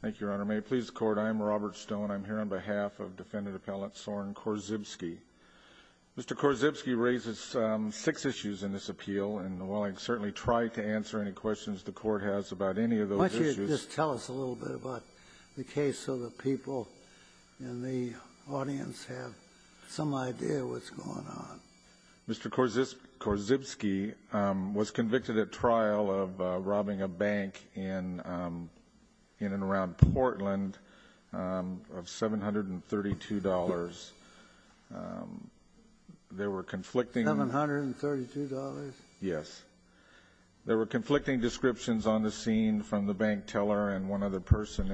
Thank you, Your Honor. May it please the Court, I'm Robert Stone. I'm here on behalf of Defendant Appellant Soren Korzybski. Mr. Korzybski raises six issues in this appeal, and while I certainly try to answer any questions the Court has about any of those issues Why don't you just tell us a little bit about the case so the people in the audience have some idea of what's going on. Mr. Korzybski was convicted at trial of robbing a bank in and around Portland of $732. $732? Yes. There were conflicting descriptions on the scene from the bank teller and one other person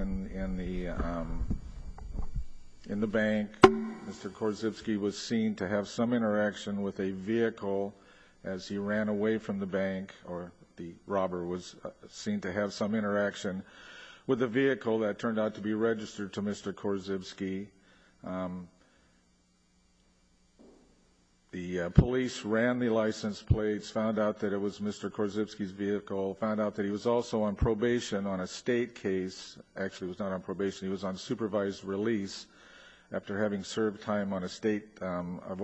in the bank. Mr. Korzybski was seen to have some interaction with a vehicle as he ran away from the bank, or the robber was seen to have some interaction with a vehicle that turned out to be registered to Mr. Korzybski. The police ran the license plates, found out that it was Mr. Korzybski's vehicle, found out that he was also on probation on a state case. Actually, he was not on probation, he was on supervised release after having served time on a state of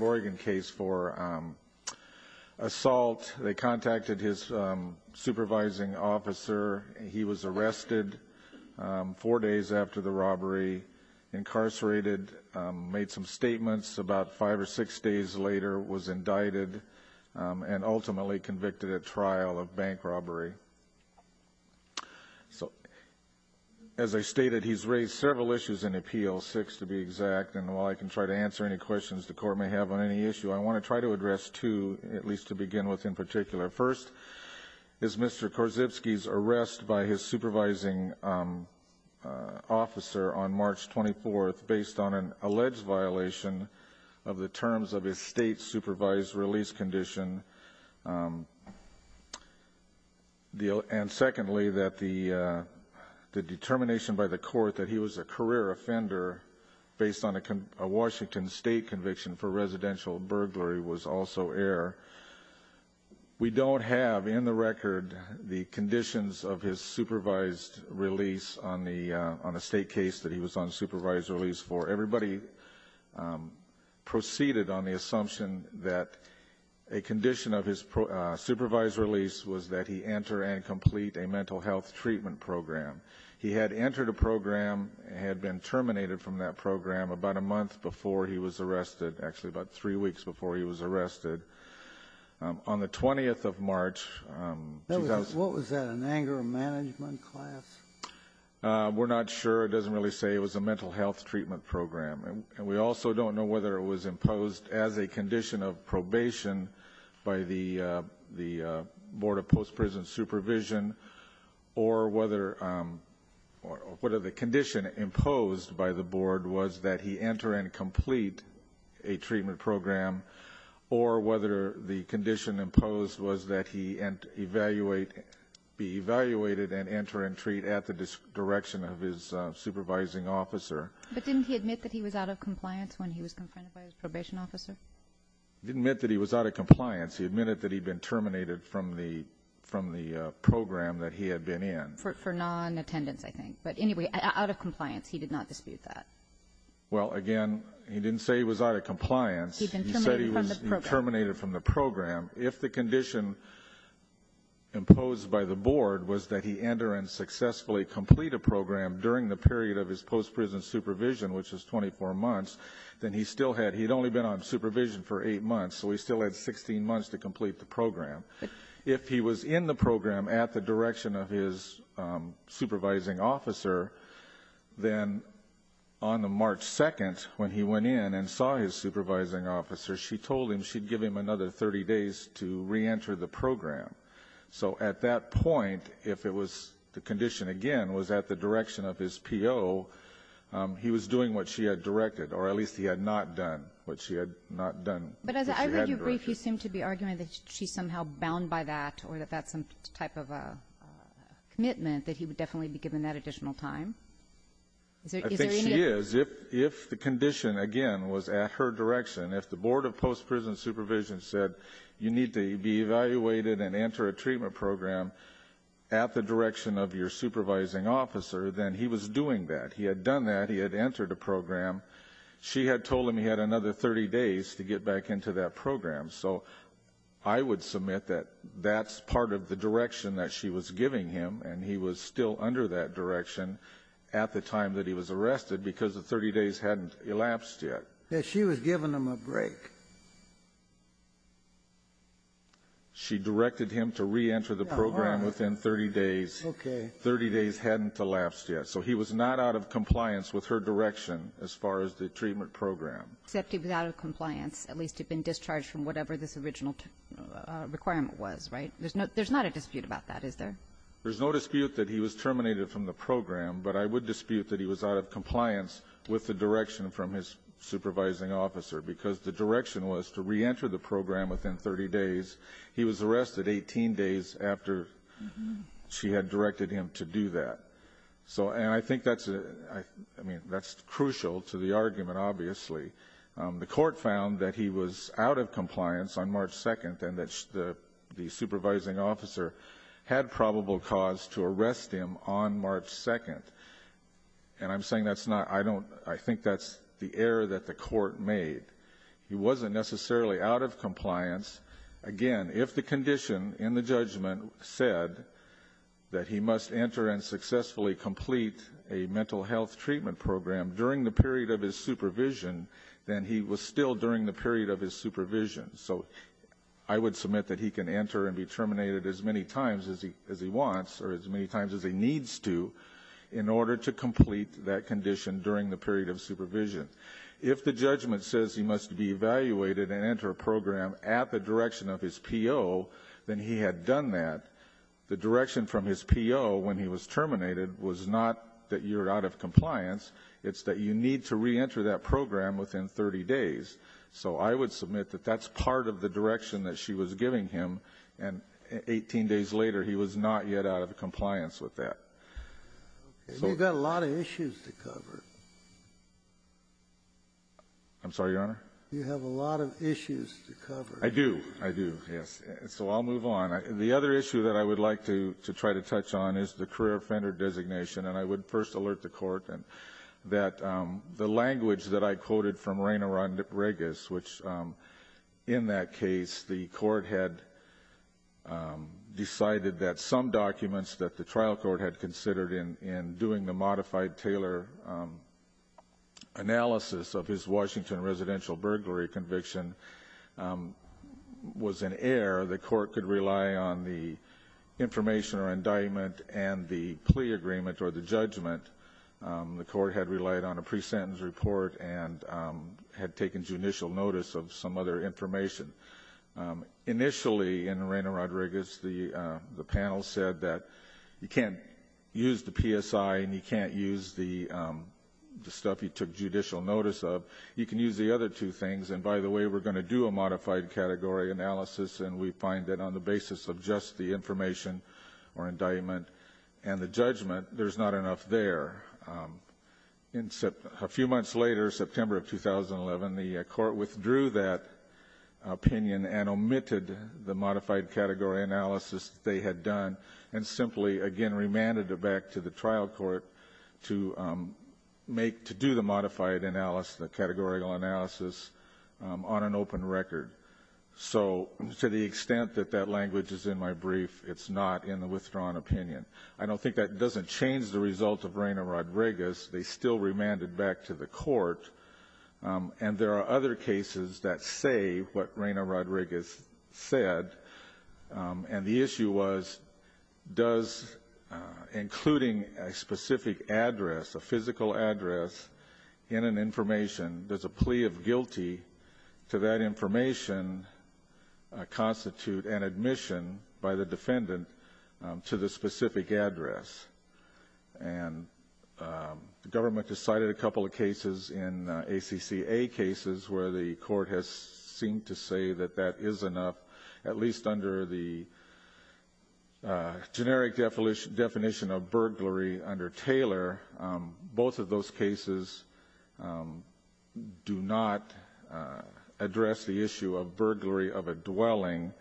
Oregon case for assault. They contacted his supervising officer. He was arrested four days after the robbery, incarcerated, made some statements about five or six days later, was indicted, and ultimately convicted at trial of bank robbery. As I stated, he's raised several issues in appeal, six to be exact, and while I can try to answer any questions the court may have on any issue, I want to try to address two, at least to begin with in particular. First, is Mr. Korzybski's arrest by his supervising officer on March 24th based on an alleged violation of the terms of his state supervised release condition, and secondly, that the determination by the court that he was a career offender based on a Washington state conviction for residential burglary was also air. We don't have in the record the conditions of his supervised release. Everybody proceeded on the assumption that a condition of his supervised release was that he enter and complete a mental health treatment program. He had entered a program, had been terminated from that program about a month before he was arrested, actually about three weeks before he was arrested. On the 20th of March... What was that, an anger management class? We're not sure. It doesn't really say it was a mental health treatment program. And we also don't know whether it was imposed as a condition of probation by the Board of Post-Prison Supervision, or whether the condition imposed by the board was that he enter and complete a treatment program, or whether the condition imposed was that he be evaluated and enter and treat at the direction of his supervising officer. But didn't he admit that he was out of compliance when he was confronted by his probation officer? He didn't admit that he was out of compliance. He admitted that he'd been terminated from the program that he had been in. For non-attendance, I think. But anyway, out of compliance. He did not dispute that. Well, again, he didn't say he was out of compliance. He'd been terminated from the program. If the condition imposed by the board was that he enter and successfully complete a program during the period of his post-prison supervision, which was 24 months, then he still had... He'd only been on supervision for 8 months, so he still had 16 months to complete the program. If he was in the program at the direction of his supervising officer, then on the March 2nd, when he went in and saw his supervising officer, she told him she'd give him another 30 days to re-enter the program. So at that point, if the condition, again, was at the direction of his PO, he was doing what she had directed, or at least he had not done what she had not done. But as I read your brief, you seem to be arguing that she's somehow bound by that or that that's some type of commitment, that he would definitely be given that additional time. I think she is. If the condition, again, was at her direction, if the board of post-prison supervision said you need to be evaluated and enter a treatment program at the direction of your supervising officer, then he was doing that. He had done that. He had entered a program. She had told him he had another 30 days to get back into that program. So I would submit that that's part of the direction that she was giving him, and he was still under that direction at the time that he was arrested because the 30 days hadn't elapsed yet. That she was giving him a break. She directed him to reenter the program within 30 days. Okay. 30 days hadn't elapsed yet. So he was not out of compliance with her direction as far as the treatment program. Except he was out of compliance. At least he had been discharged from whatever this original requirement was, right? There's not a dispute about that, is there? There's no dispute that he was terminated from the program, but I would dispute that he was out of compliance with the direction from his supervising officer because the direction was to reenter the program within 30 days. He was arrested 18 days after she had directed him to do that. And I think that's crucial to the argument, obviously. The court found that he was out of compliance on March 2nd and that the supervising officer had probable cause to arrest him on March 2nd. And I think that's the error that the court made. He wasn't necessarily out of compliance. Again, if the condition in the judgment said that he must enter and successfully complete a mental health treatment program during the period of his supervision, then he was still during the period of his supervision. So I would submit that he can enter and be terminated as many times as he wants or as many times as he needs to in order to complete that condition during the period of supervision. If the judgment says he must be evaluated and enter a program at the direction of his PO, then he had done that. The direction from his PO when he was terminated was not that you're out of compliance. It's that you need to reenter that program within 30 days. So I would submit that that's part of the direction that she was giving him and 18 days later he was not yet out of compliance with that. And you've got a lot of issues to cover. I'm sorry, Your Honor? You have a lot of issues to cover. I do. I do, yes. So I'll move on. The other issue that I would like to try to touch on is the career offender designation. And I would first alert the court that the language that I quoted from Reina Regas which in that case the court had decided that some documents that the trial court had considered in doing the modified Taylor analysis of his Washington residential burglary conviction was in error. The court could rely on the information or indictment and the plea agreement or the judgment. The court had relied on a pre-sentence report and had taken judicial notice of some other information. Initially in Reina Regas, the panel said that you can't use the PSI and you can't use the stuff you took judicial notice of. You can use the other two things. And by the way, we're going to do a modified category analysis and we find that on the basis of just the information or indictment and the judgment, there's not enough there. A few months later, September of 2011, the court withdrew that opinion and omitted the modified category analysis that they had done and simply again remanded it back to the trial court to do the modified analysis, the categorical analysis on an open record. So to the extent that that language is in my brief, it's not in the withdrawn opinion. I don't think that doesn't change the result of Reina Regas. They still remanded back to the court and there are other cases that say what Reina Regas said and the issue was does including a specific address, a physical address in an information, does a plea of guilty to that information constitute an admission by the defendant to the specific address. And the government has cited a couple of cases in ACCA cases where the court has seemed to say that that is enough, at least under the generic definition of burglary under Taylor. Both of those cases do not address the issue of burglary of a dwelling,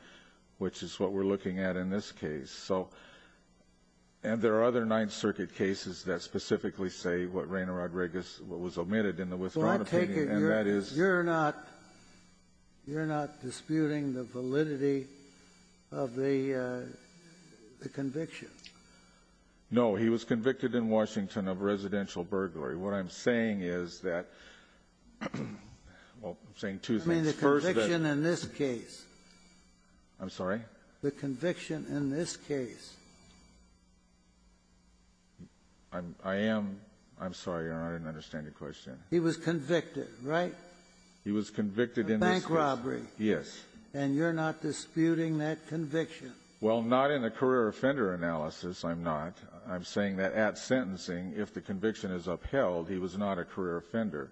which is what we're looking at in this case. And there are other Ninth Circuit cases that specifically say what Reina Regas was omitted in the withdrawn opinion and that is... So I take it you're not disputing the validity of the conviction? No. He was convicted in Washington of residential burglary. What I'm saying is that... Well, I'm saying two things. I mean the conviction in this case. I'm sorry? The conviction in this case. I am... I'm sorry, Your Honor. I didn't understand your question. He was convicted, right? He was convicted in this case. A bank robbery. Yes. And you're not disputing that conviction? Well, not in a career offender analysis. I'm not. I'm saying that at sentencing, if the conviction is upheld, he was not a career offender.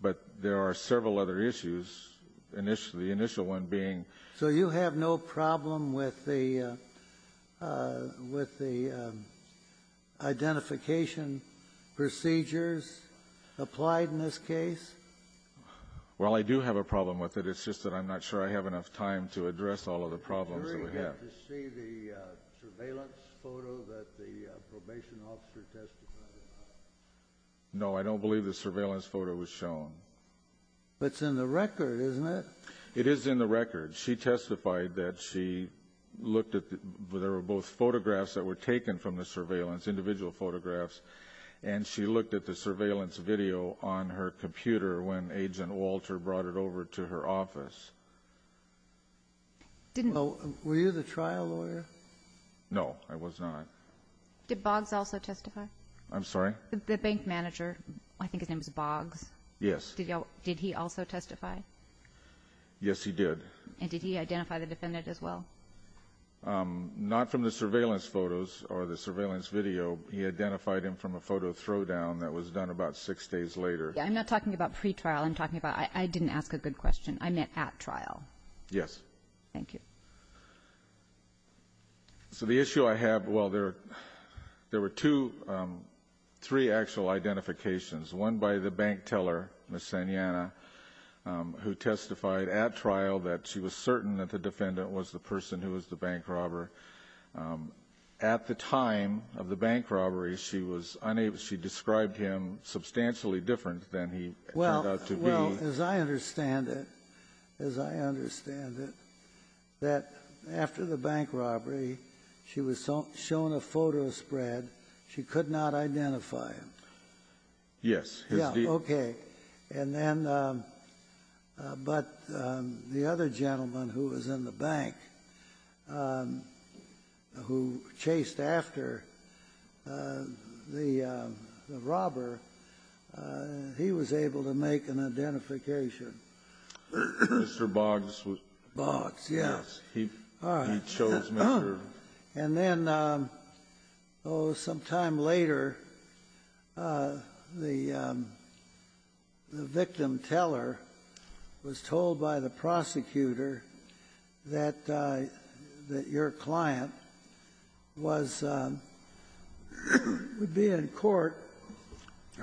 But there are several other issues. The initial one being... So you have no problem with the... with the identification procedures applied in this case? Well, I do have a problem with it. It's just that I'm not sure I have enough time to address all of the problems that we have. Did the jury get to see the surveillance photo that the probation officer testified about? No, I don't believe the surveillance photo was shown. But it's in the record, isn't it? It is in the record. She testified that she looked at... There were both photographs that were taken from the surveillance, individual photographs. And she looked at the surveillance video on her computer when Agent Walter brought it over to her office. Were you the trial lawyer? No, I was not. Did Boggs also testify? I'm sorry? The bank manager. I think his name was Boggs. Yes. Did he also testify? Yes, he did. And did he identify the defendant as well? Not from the surveillance photos or the surveillance video. He identified him from a photo throwdown that was done about six days later. I'm not talking about pretrial. I'm talking about... I didn't ask a good question. I meant at trial. Yes. Thank you. So the issue I have... Well, there were two, three actual identifications. One by the bank teller, Ms. Sanyana, who testified at trial that she was certain that the defendant was the person who was the bank robber. At the time of the bank robbery, she was unable... She described him substantially different than he turned out to be. Well, as I understand it, as I understand it, that after the bank robbery, she was shown a photo spread. She could not identify him. Yes. Yeah, okay. And then... But the other gentleman who was in the bank who chased after the robber, he was able to make an identification. Mr. Boggs was... Boggs, yes. He chose Mr... And then, oh, some time later, the victim teller was told by the prosecutor that your client would be in court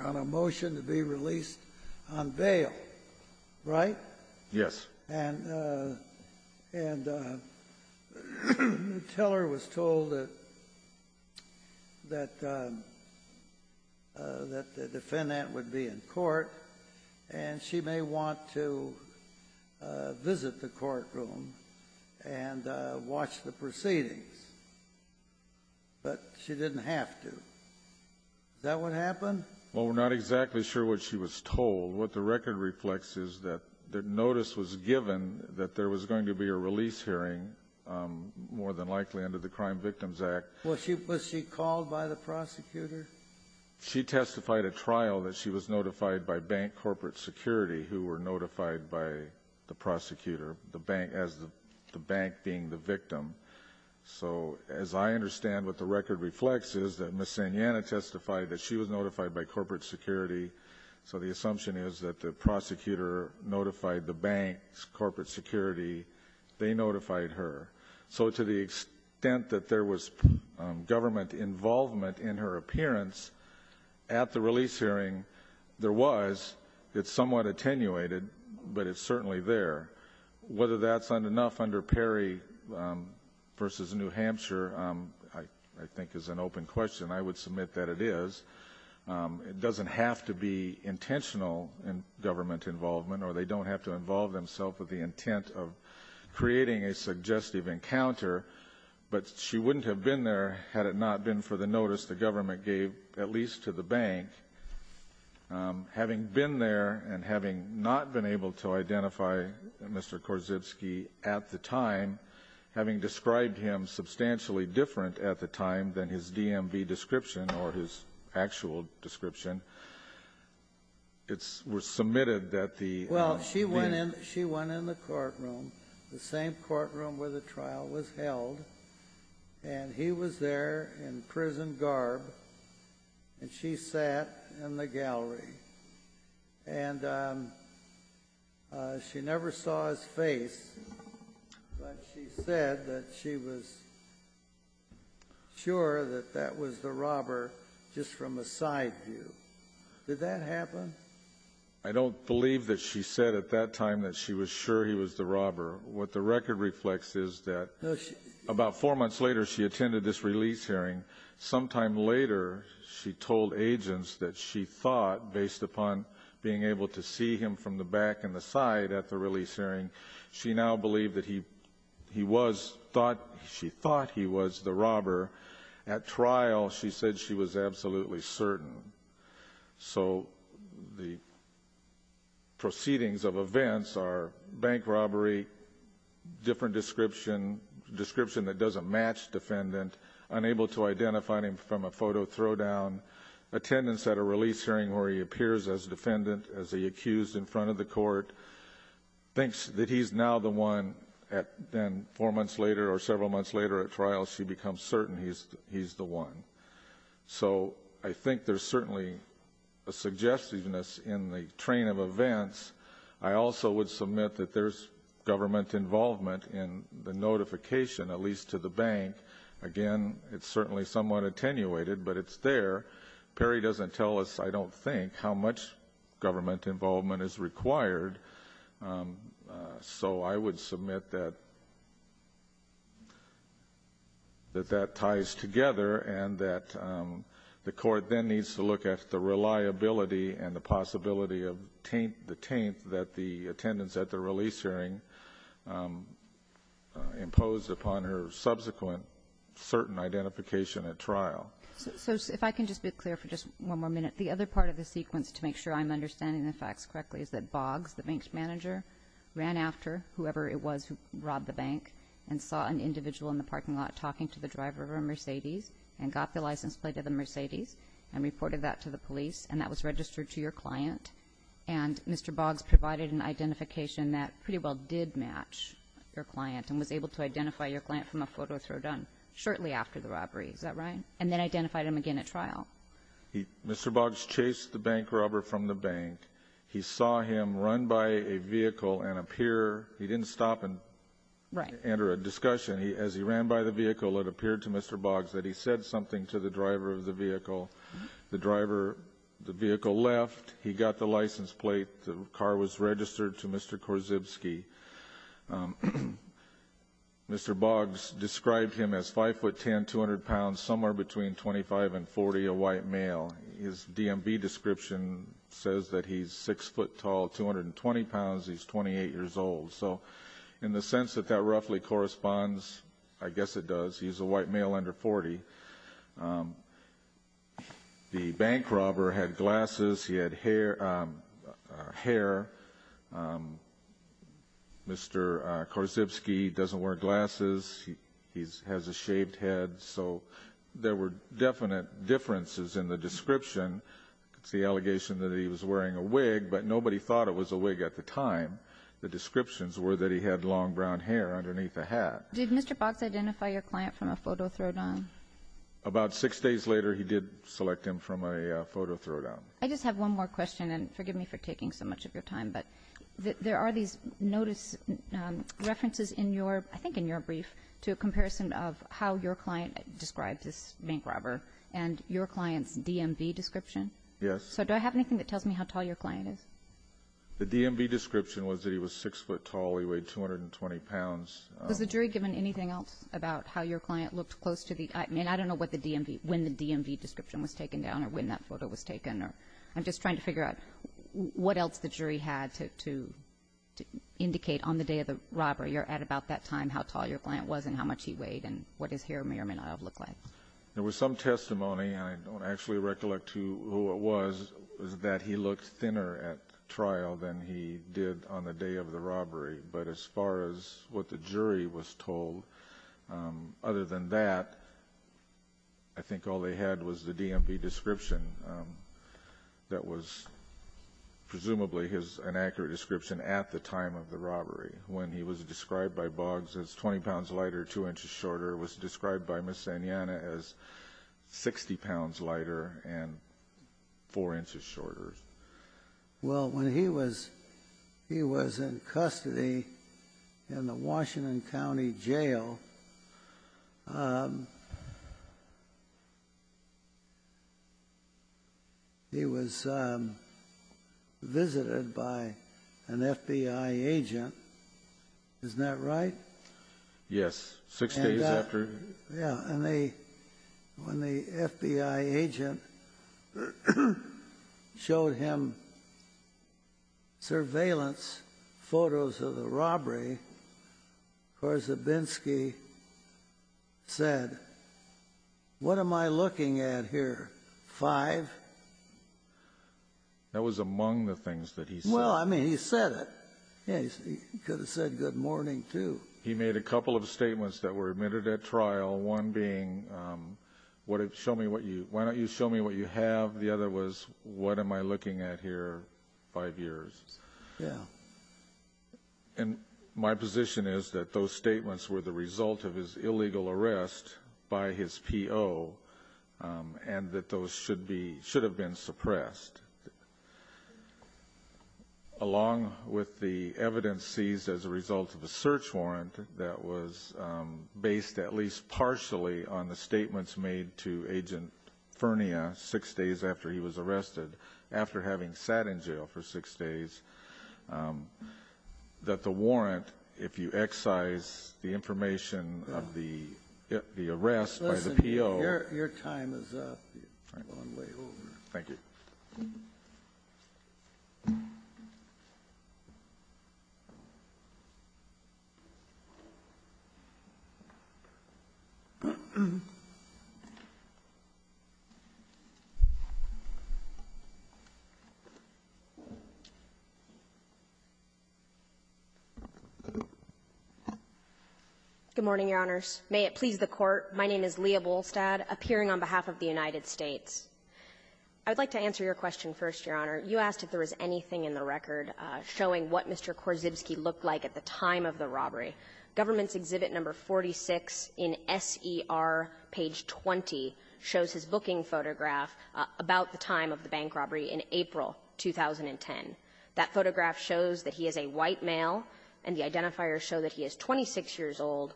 on a motion to be released on bail. Right? Yes. And the teller was told that the defendant would be in court and she may want to visit the courtroom and watch the proceedings. But she didn't have to. Is that what happened? Well, we're not exactly sure what she was told. What the record reflects is that the notice was given that there was going to be a release hearing more than likely under the Crime Victims Act. Was she called by the prosecutor? She testified at trial that she was notified by bank corporate security who were notified by the prosecutor as the bank being the victim. So, as I understand what the record reflects is that Ms. Sanjana testified that she was notified by corporate security. So the assumption is that the prosecutor notified the bank's corporate security. They notified her. So to the extent that there was government involvement in her appearance at the release hearing, there was. It's somewhat attenuated, but it's certainly there. Whether that's enough under Perry v. New Hampshire I think is an open question. I would submit that it is. It doesn't have to be intentional government involvement or they don't have to involve themselves with the intent of creating a suggestive encounter. But she wouldn't have been there had it not been for the notice the government gave, at least to the bank. Having been there and having not been able to identify Mr. Korzybski at the time, having described him substantially different at the time than his DMV description or his actual description, it was submitted that the... Well, she went in the courtroom the same courtroom where the trial was held and he was there in prison garb and she sat in the gallery and she never saw his face but she said that she was sure that that was the robber just from a side view. Did that happen? I don't believe that she said at that time that she was sure he was the robber. What the record reflects is that about four months later she attended this release hearing. Sometime later she told agents that she thought, based upon being able to see him from the back and the side at the release hearing, she now believed that he was, she thought he was the robber. At trial she said she was absolutely certain. So the proceedings of events are bank robbery, different description, description that doesn't match defendant, unable to identify him from a photo or a throw down. Attendance at a release hearing where he appears as defendant, as he accused in front of the court thinks that he's now the one and four months later or several months later at trial she becomes certain he's the one. So I think there's certainly a suggestiveness in the train of events. I also would submit that there's government involvement in the notification at least to the bank. Again, it's certainly somewhat attenuated but it's there. Perry doesn't tell us, I don't think, how much government involvement is required. So I would submit that that ties together and that the court then needs to look at the reliability and the possibility of the taint that the attendance at the release hearing imposed upon her subsequent certain identification at trial. So if I can just be clear for just one more minute, the other part of the sequence to make sure I'm understanding the facts correctly is that Boggs, the bank's manager, ran after whoever it was who robbed the bank and saw an individual in the parking lot talking to the driver of a Mercedes and got the license plate of the Mercedes and reported that to the police and that was registered to your client and Mr. Boggs provided an identification that pretty well did match your client and was able to identify your client from a photo thrown down shortly after the robbery, is that right? And then identified him again at trial. Mr. Boggs chased the bank robber from the bank, he saw him run by a vehicle and appear he didn't stop and enter a discussion, as he ran by the vehicle it appeared to Mr. Boggs that he said something to the driver of the vehicle the driver the vehicle left, he got the license plate, the car was registered to Mr. Korzybski Mr. Boggs described him as 5 foot 10 200 pounds, somewhere between 25 and 40, a white male his DMV description says that he's 6 foot tall 220 pounds, he's 28 years old so in the sense that that roughly corresponds, I guess it does, he's a white male under 40 the bank robber had glasses, he had hair um Mr. Korzybski doesn't wear glasses, he has a shaved head, so there were definite differences in the description it's the allegation that he was wearing a wig but nobody thought it was a wig at the time the descriptions were that he had long brown hair underneath a hat Did Mr. Boggs identify your client from a photo thrown down? About 6 days later he did select him from a photo thrown down. I just have one more question forgive me for taking so much of your time there are these notice references in your brief to a comparison of how your client described this bank robber and your client's DMV description? Yes Do I have anything that tells me how tall your client is? The DMV description was that he was 6 foot tall, he weighed 220 pounds. Was the jury given anything else about how your client looked close to I don't know when the DMV description was taken down or when that photo was What else the jury had to indicate on the day of the robbery or at about that time how tall your client was and how much he weighed and what his hair may or may not have looked like There was some testimony and I don't actually recollect who it was that he looked thinner at trial than he did on the day of the robbery but as far as what the jury was told other than that I think all they had was the DMV description that was presumably his inaccurate description at the time of the robbery when he was described by Boggs as 20 pounds lighter, 2 inches shorter, was described by Ms. Sanjana as 60 pounds lighter and 4 inches shorter Well when he was in custody in the Washington County Jail He was visited by an FBI agent Isn't that right? Yes, 6 days after When the FBI agent showed him surveillance photos of the robbery Korzebinski said What am I looking at here? 5 That was among the things that he said Well I mean he said it He could have said good morning too He made a couple of statements that were admitted at trial, one being Why don't you show me what you have? The other was What am I looking at here? 5 years And my position is that those statements were the result of his illegal arrest by his PO and that those should be should have been suppressed Along with the evidence seized as a result of a search warrant that was based at least partially on the statements made to Agent Furnia 6 days after he was arrested after having sat in jail for 6 days that the warrant if you excise the information of the arrest by the PO Your time is up Thank you Good morning Your Honors May it please the court My name is Leah Bohlstad appearing on behalf of the United States I would like to answer your question first Your Honor. You asked if there was anything in the record showing what Mr. Korzybski looked like at the time of the robbery. Government's exhibit number 46 in S.E.R. page 20 shows his booking photograph about the time of the bank robbery in April 2010. That photograph shows that he is a white male and the identifiers show that he is 26 years old,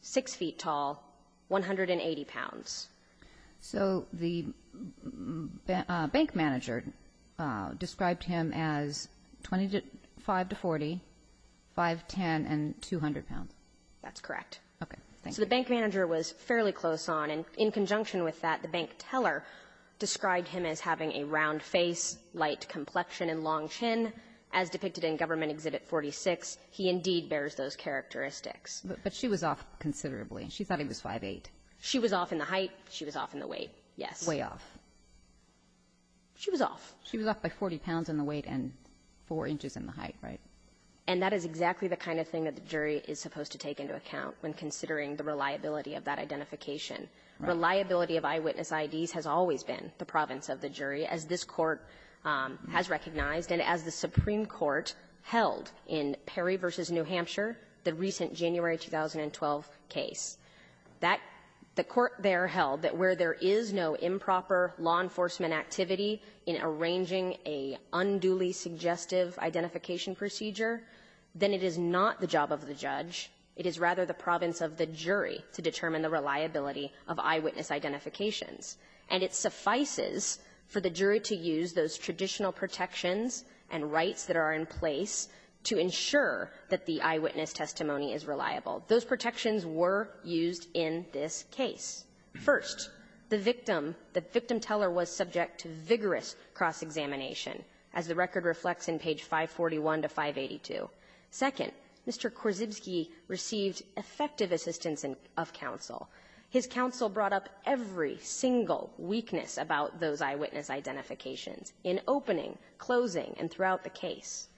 6 feet tall 180 pounds So the bank manager described him as 25 to 40 5'10 and 200 pounds That's correct So the bank manager was fairly close on and in conjunction with that the bank teller described him as having a round face, light complexion and long chin as depicted in government exhibit 46. He indeed bears those characteristics But she was off considerably. She thought he was 5'8 She was off in the height She was off in the weight She was off She was off by 40 pounds in the weight and 4 inches in the height And that is exactly the kind of thing that the jury is supposed to take into account when considering the reliability of that identification Reliability of eyewitness IDs has always been the province of the jury as this court has recognized and as the Supreme Court held in Perry v. New Hampshire the recent January 2012 case The court there held that where there is no improper law enforcement activity in arranging a unduly suggestive identification procedure, then it is not the job of the judge It is rather the province of the jury to determine the reliability of eyewitness identifications. And it suffices for the jury to use those traditional protections and rights that are in place to ensure that the eyewitness testimony is reliable. Those protections were used in this case First, the victim the victim teller was subject to vigorous cross-examination as the record reflects in page 541 to 582 Second, Mr. Korzybski received effective assistance of counsel. His counsel brought up every single weakness about those eyewitness identifications in opening, closing, and throughout the case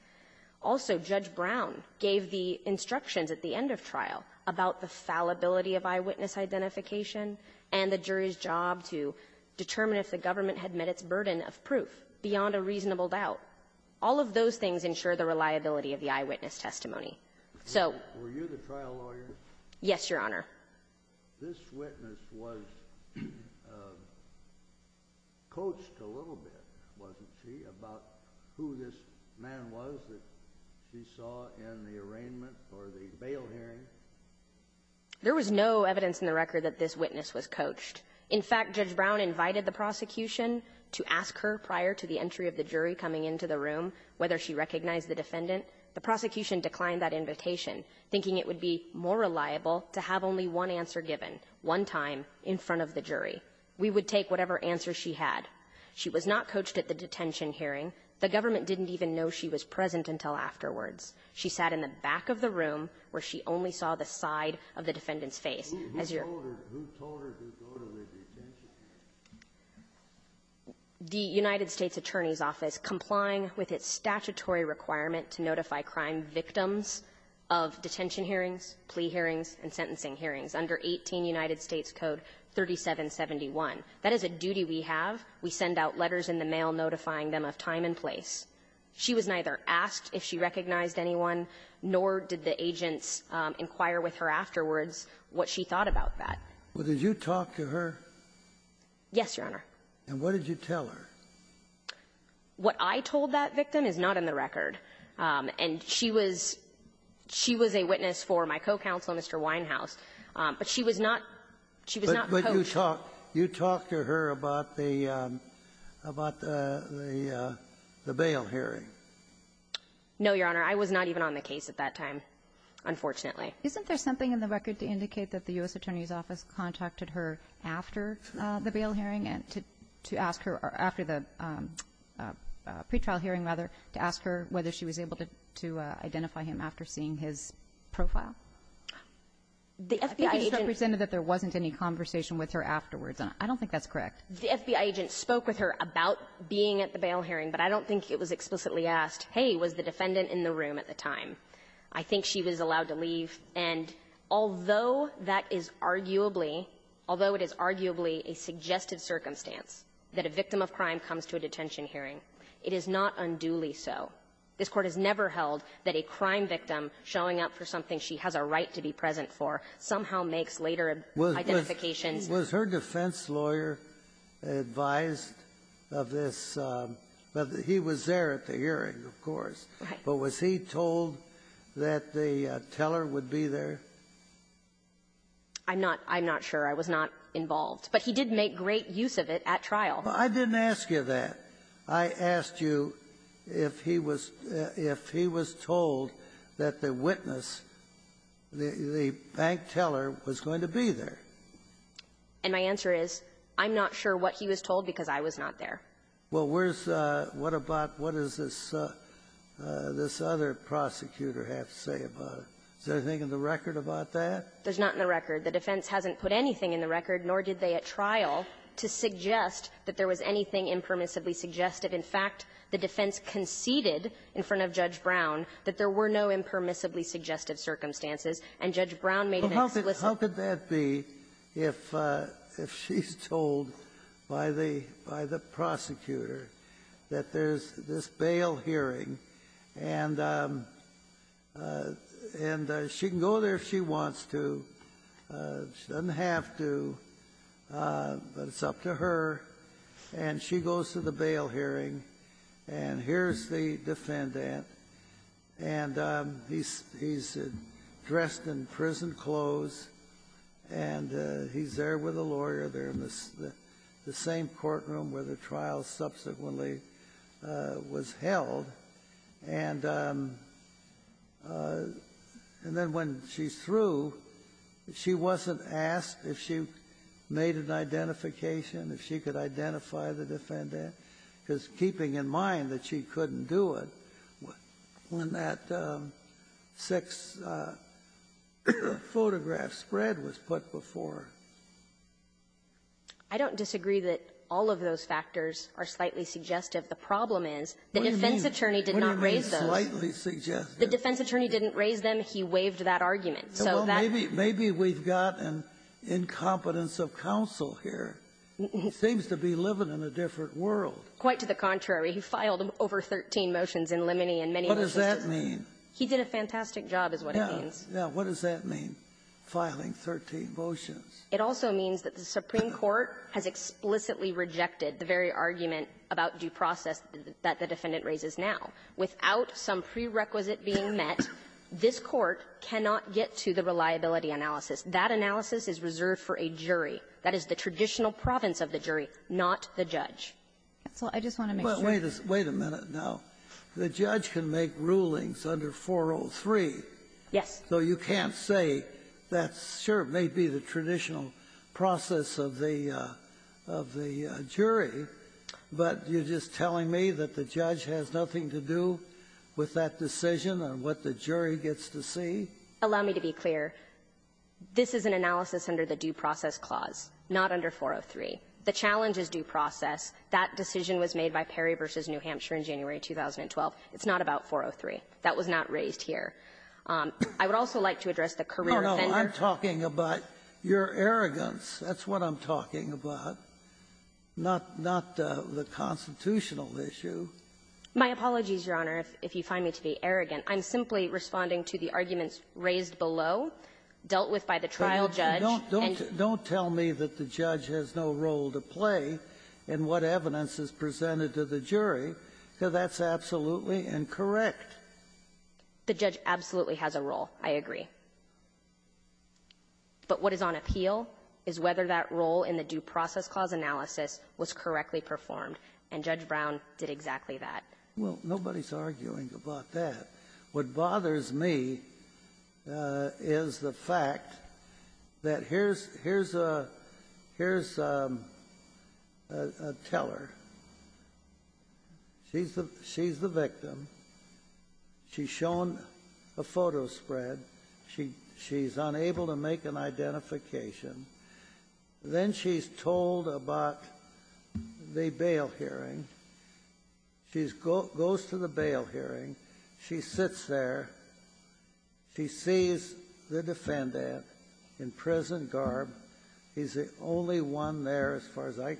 Also, Judge Brown gave the instructions at the end of trial about the fallibility of eyewitness identification and the jury's job to determine if the government had met its burden of proof beyond a reasonable doubt All of those things ensure the reliability of the eyewitness testimony Were you the trial lawyer? Yes, Your Honor This witness was coached a little bit, wasn't she? About who this man was that she saw in the arraignment or the bail hearing There was no evidence in the record that this witness was coached In fact, Judge Brown invited the prosecution to ask her prior to the entry of the jury coming into the room whether she recognized the defendant The prosecution declined that invitation thinking it would be more reliable to have only one answer given one time in front of the jury We would take whatever answer she had She was not coached at the detention hearing The government didn't even know she was present until afterwards She sat in the back of the room where she only saw the side of the defendant's face Who told her to go to the detention hearing? The United States Attorney's Office complying with its statutory requirement to notify crime victims of detention hearings, plea hearings, and sentencing hearings under 18 United States Code 3771 That is a duty we have We send out letters in the mail notifying them of time and place She was neither asked if she recognized anyone nor did the agents inquire with her afterwards what she thought about that Did you talk to her? Yes, Your Honor And what did you tell her? What I told that victim is not in the record She was a witness for my co-counsel, Mr. Winehouse But she was not coached Did you talk to her about the bail hearing? No, Your Honor I was not even on the case at that time Unfortunately Isn't there something in the record to indicate that the U.S. Attorney's Office contacted her after the bail hearing to ask her after the pre-trial hearing to ask her whether she was able to identify him after seeing his profile? The FBI agent presented that there wasn't any conversation with her afterwards I don't think that's correct The FBI agent spoke with her about being at the bail hearing but I don't think it was explicitly asked Hey, was the defendant in the room at the time? I think she was allowed to leave and although that is arguably although it is arguably a suggested circumstance that a victim of crime comes to a detention hearing This Court has never held that a crime victim showing up for something she has a right to be present for somehow makes later identifications Was her defense lawyer advised of this? He was there at the hearing of course But was he told that the teller would be there? I'm not sure I was not involved But he did make great use of it at trial I didn't ask you that I asked you if he was told that the witness the bank teller was going to be there And my answer is I'm not sure what he was told because I was not there What is this other prosecutor have to say about it? Is there anything in the record about that? There's not in the record The defense hasn't put anything in the record nor did they at trial to suggest that there was anything impermissibly suggested In fact, the defense conceded in front of Judge Brown that there were no impermissibly suggestive circumstances and Judge Brown made an explicit How could that be if she's told by the prosecutor that there's this bail hearing and she can go there if she wants to she doesn't have to but it's up to her and she goes to the bail hearing and here's the defense saying here's the defendant and he's dressed in prison clothes and he's there with a lawyer in the same courtroom where the trial subsequently was held and and then when she's through she wasn't asked if she made an identification if she could identify the defendant because keeping in mind that she couldn't do it when that sex photograph spread was put before I don't disagree that all of those factors are slightly suggestive the problem is the defense attorney did not raise those the defense attorney didn't raise them he waived that argument maybe we've got an incompetence of counsel here he seems to be living in a different world quite to the contrary he filed over 13 motions what does that mean he did a fantastic job what does that mean filing 13 motions it also means that the supreme court has explicitly rejected the very argument about due process that the defendant raises now without some prerequisite being met this court cannot get to the reliability analysis that analysis is reserved for a jury that is the traditional province of the jury not the judge wait a minute now the judge can make rulings under 403 so you can't say sure it may be the traditional process of the jury but you're just telling me that the judge has nothing to do with that decision and what the jury gets to see allow me to be clear this is an analysis under the due process clause not under 403 the challenge is due process that decision was made by Perry v. New Hampshire in January 2012 it's not about 403 that was not raised here I would also like to address the career I'm talking about your arrogance that's what I'm talking about not the constitutional issue my apologies your honor if you find me to be arrogant I'm simply responding to the arguments raised below dealt with by the trial judge don't tell me that the judge has no role to play in what evidence is presented to the jury because that's absolutely incorrect the judge absolutely has a role I agree but what is on appeal is whether that role in the due process clause analysis was correctly performed and Judge Brown did exactly that well nobody's arguing about that what bothers me is the fact that here's here's a teller she's the victim she's shown a photo spread she's unable to make an identification then she's told about the bail hearing she goes to the bail hearing she sits there she sees the defendant in prison garb he's the only one there as far as I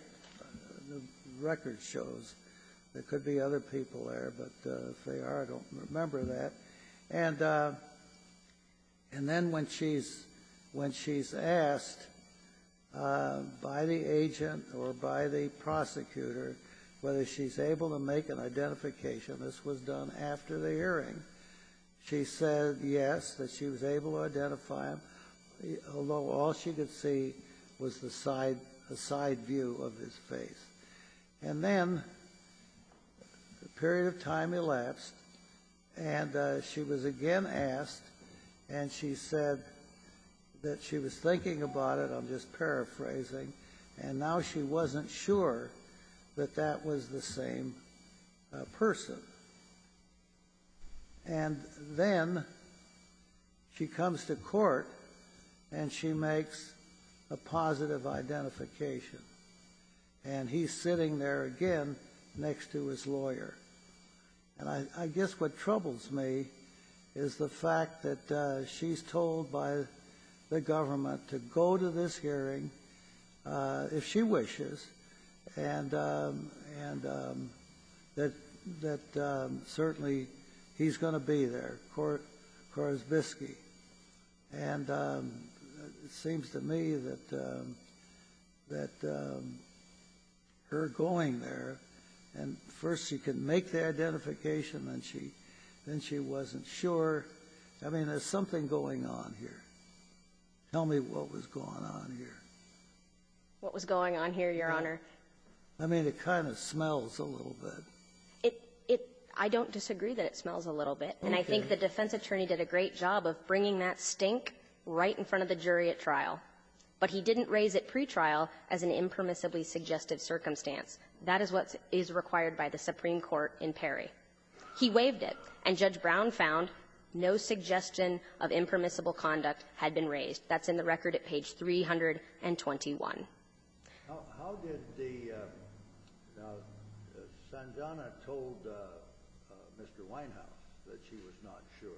record shows there could be other people there but if they are I don't remember that and then when she's asked by the agent or by the prosecutor whether she's able to make an identification this was done after the hearing she said yes that she was able to identify him although all she could see was the side view of his face and then a period of time elapsed and she was again asked and she said that she was thinking about it I'm just paraphrasing and now she wasn't sure that that was the same person and then she comes to court and she makes a positive identification and he's sitting there again next to his lawyer and I guess what troubles me is the fact that she's told by the government to go to this hearing if she wishes and that certainly he's going to be there Korsbisky and it seems to me that that her going there and first she could make the identification then she wasn't sure I mean there's something going on here tell me what was going on here What was going on here Your Honor? I mean it kind of I don't disagree that it smells a little bit and I think the defense attorney did a great job of bringing that stink right in front of the jury at trial but he didn't raise it pre-trial as an impermissibly suggestive circumstance that is what is required by the Supreme Court in Perry he waived it and Judge Brown found no suggestion of impermissible conduct had been raised that's in the record at page 321 How did the Now Sanzana told Mr. Winehouse that she was not sure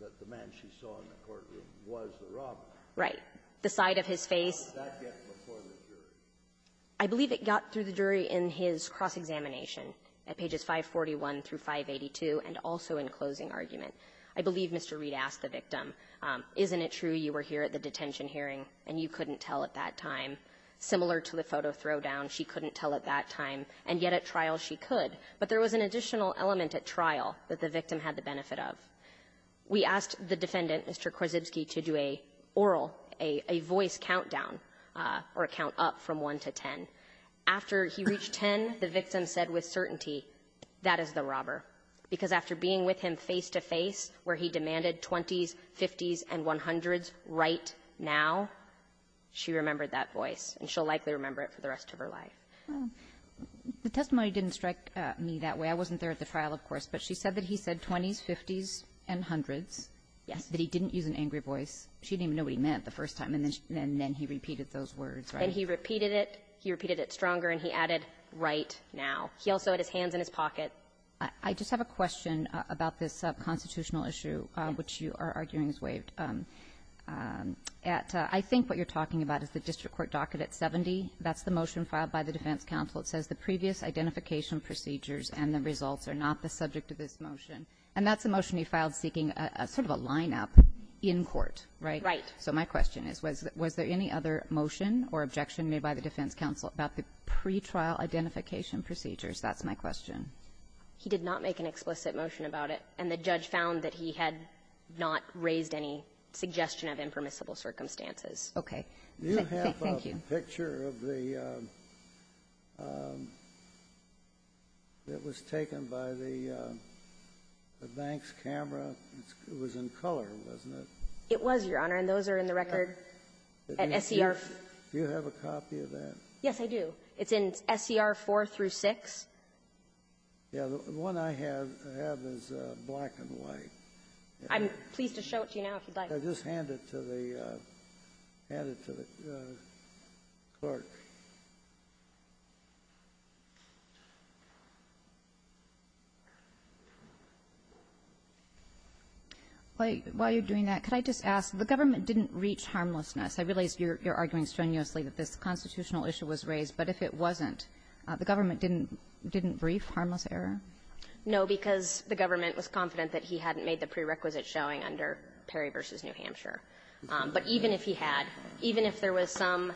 that the man she saw in the courtroom was the robber Right. The side of his face How did that get before the jury? I believe it got through the jury in his cross-examination at pages 541 through 582 and also in closing argument. I believe Mr. Reid asked the victim isn't it true you were here at the detention hearing and you couldn't tell at that time similar to the photo throwdown she couldn't tell at that time and yet at trial she could but there was an additional element at trial that the victim had the benefit of we asked the defendant Mr. Korzybski to do a oral a voice countdown or a count up from 1 to 10 after he reached 10 the victim said with certainty that is the robber because after being with him face to face where he demanded 20s 50s and 100s right now she remembered that voice and she'll likely remember it for the rest of her life the testimony didn't strike me that way I wasn't there at the trial of course but she said that he said 20s 50s and 100s that he didn't use an angry voice she didn't even know what he meant the first time and then he repeated those words and he repeated it he repeated it stronger and he added right now he also had his hands in his pocket I just have a question about this constitutional issue which you are at I think what you're talking about is the district court docket at 70 that's the motion filed by the defense council it says the previous identification procedures and the results are not the subject of this motion and that's the motion you filed seeking a sort of a line up in court right so my question is was there any other motion or objection made by the defense council about the pretrial identification procedures that's my question he did not make an explicit motion about it and the judge found that he had not raised any suggestion of impermissible circumstances okay you have a picture of the that was taken by the banks camera it was in color wasn't it it was your honor and those are in the record at SCR do you have a copy of that yes I do it's in SCR 4 through 6 yeah the one I have is black and white I'm pleased to show it to you now if you'd like just hand it to the hand it to the clerk while you're doing that could I just ask the government didn't reach harmlessness I realize you're arguing strenuously that this constitutional issue was raised but if it wasn't the government didn't didn't brief harmless error no because the government was confident that he hadn't made the prerequisite showing under Perry v. New Hampshire but even if he had even if there was some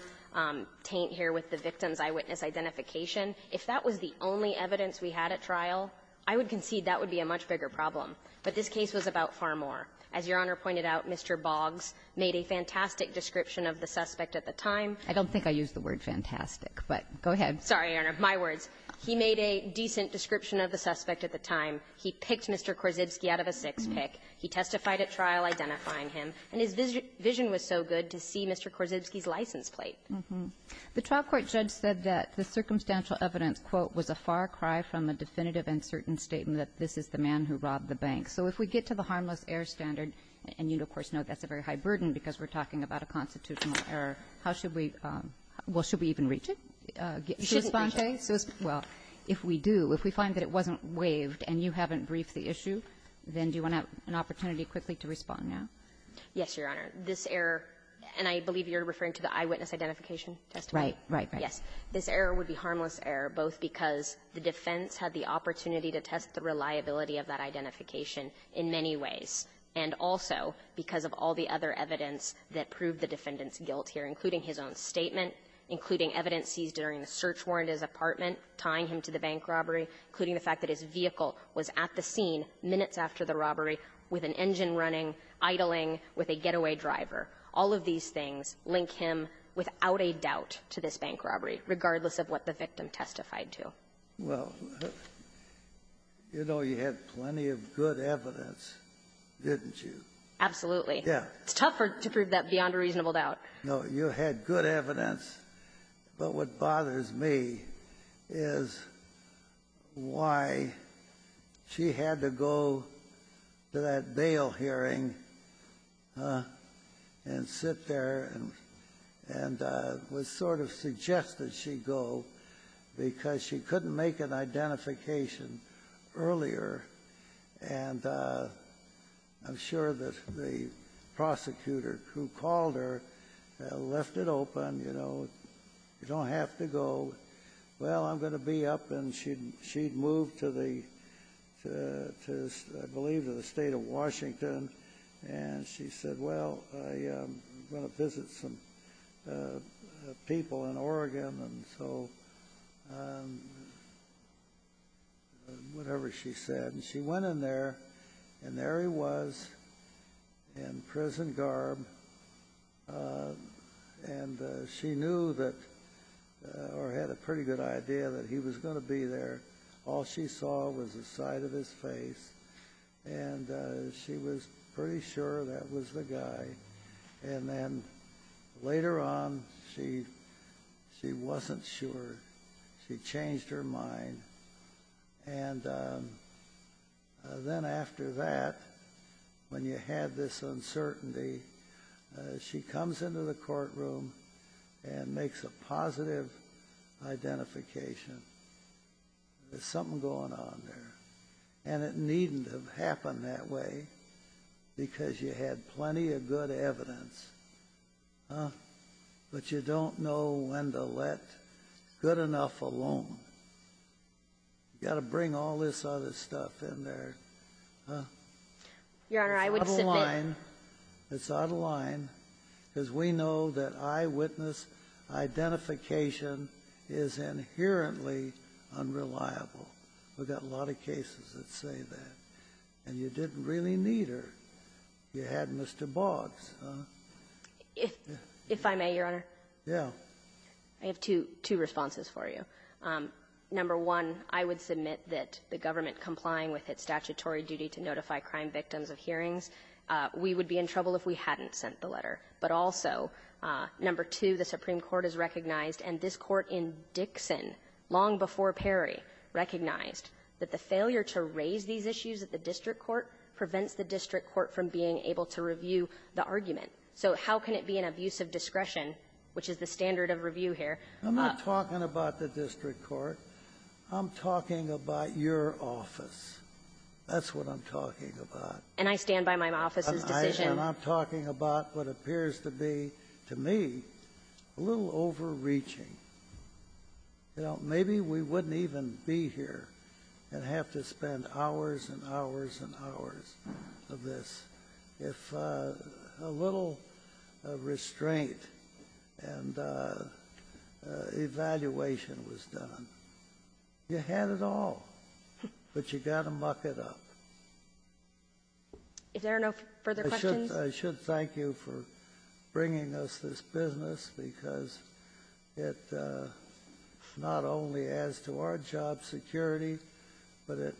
taint here with the victim's eyewitness identification if that was the only evidence we had at trial I would concede that would be a much bigger problem but this case was about far more as your honor pointed out Mr. Boggs made a fantastic description of the suspect at the time I don't think I used the word fantastic but go ahead sorry your honor my words he made a decent description of the suspect at the time he picked Mr. Korzybski out of a six pick he testified at trial identifying him and his vision was so good to see Mr. Korzybski's license plate the trial court judge said that the circumstantial evidence quote was a far cry from a definitive and certain statement that this is the man who robbed the bank so if we get to the harmless error standard and you of course know that's a very high burden because we're talking about a constitutional error how should we well should we even reach it should we respond if we do if we find that it wasn't waived and you haven't briefed the issue then do you want an opportunity quickly to respond yes your honor this error and I believe you're referring to the eyewitness identification testimony this error would be harmless error both because the defense had the opportunity to test the reliability of that identification in many ways and also because of all the other evidence that proved the defendant's guilt here including his own statement including evidence seized during the search warrant at his apartment tying him to the bank robbery including the fact that his vehicle was at the scene minutes after the robbery with an engine running idling with a getaway driver all of these things link him without a doubt to this bank robbery regardless of what the victim testified to well you know you had plenty of good evidence didn't you absolutely it's tough to prove that beyond a reasonable doubt no you had good evidence but what bothers me is why she had to go to that bail hearing and sit there and was sort of suggested she go because she couldn't make an identification earlier and I'm sure that the prosecutor who called her left it open you don't have to go well I'm going to be up and she moved to the I believe to the state of Washington and she said well I'm going to visit some people in Oregon and so whatever she said and she went in there and there he was in prison garb and she knew that or had a pretty good idea that he was going to be there all she saw was the side of his face and she was pretty sure that was the guy and then later on she wasn't sure she changed her mind and then after that when you had this uncertainty she comes into the court room and makes a positive identification there's something going on there and it needn't have happened that way because you had plenty of good evidence but you don't know when to let good enough alone you got to bring all this other stuff in there it's out of line it's out of line because we know that eyewitness identification is inherently unreliable we got a lot of cases that say that and you didn't really need her you had Mr. Boggs if I may your honor I have two responses for you number one I would submit that the government complying with its statutory duty to notify crime victims of hearings we would be in trouble if we hadn't sent the letter but also number two the supreme court has recognized and this court in Dixon long before Perry recognized that the failure to raise these issues at the district court prevents the district court from being able to review the argument so how can it be an abuse of discretion which is the standard of review here I'm not talking about the district court I'm talking about your office that's what I'm talking about and I stand by my office's decision I'm talking about what appears to be to me a little overreaching maybe we wouldn't even be here and have to spend hours and hours and hours of this if a little restraint and evaluation was done you had it all but you gotta muck it up if there are no further questions I should thank you for bringing us this business because it not only adds to our job security but it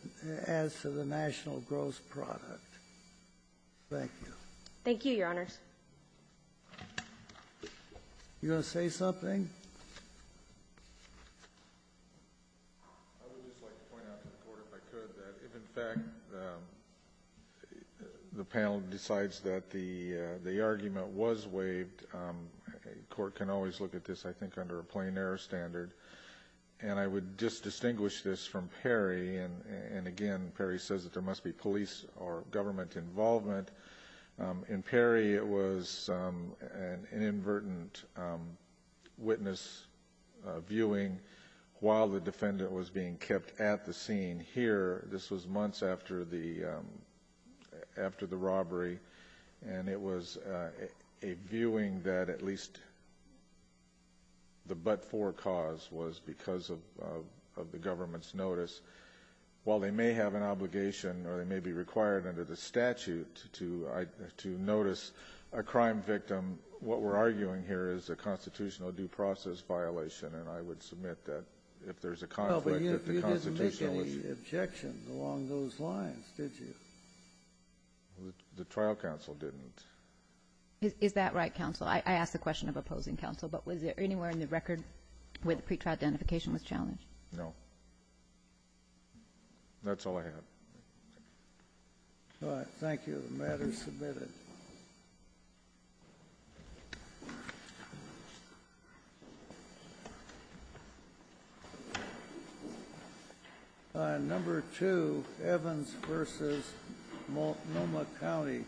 adds to the national gross product thank you you gonna say something I would just like to point out to the court if I could that if in fact the panel decides that the argument was waived the court can always look at this I think under a plain error standard and I would just distinguish this from Perry and again Perry says that there must be police or government involvement in Perry it was an inadvertent witness viewing while the defendant was being kept at the scene here this was months after the robbery and it was a viewing that at least the but for cause was because of the government's notice while they may have an obligation or they may be required under the statute to notice a crime victim what we're arguing here is a constitutional due process violation and I would submit that if there's a conflict that the constitution you didn't make any objections along those lines did you the trial counsel didn't is that right counsel I asked the question of opposing counsel but was there anywhere in the record where the pretrial identification was challenged no that's all I have thank you the matter is submitted number two Evans versus Multnomah County thank you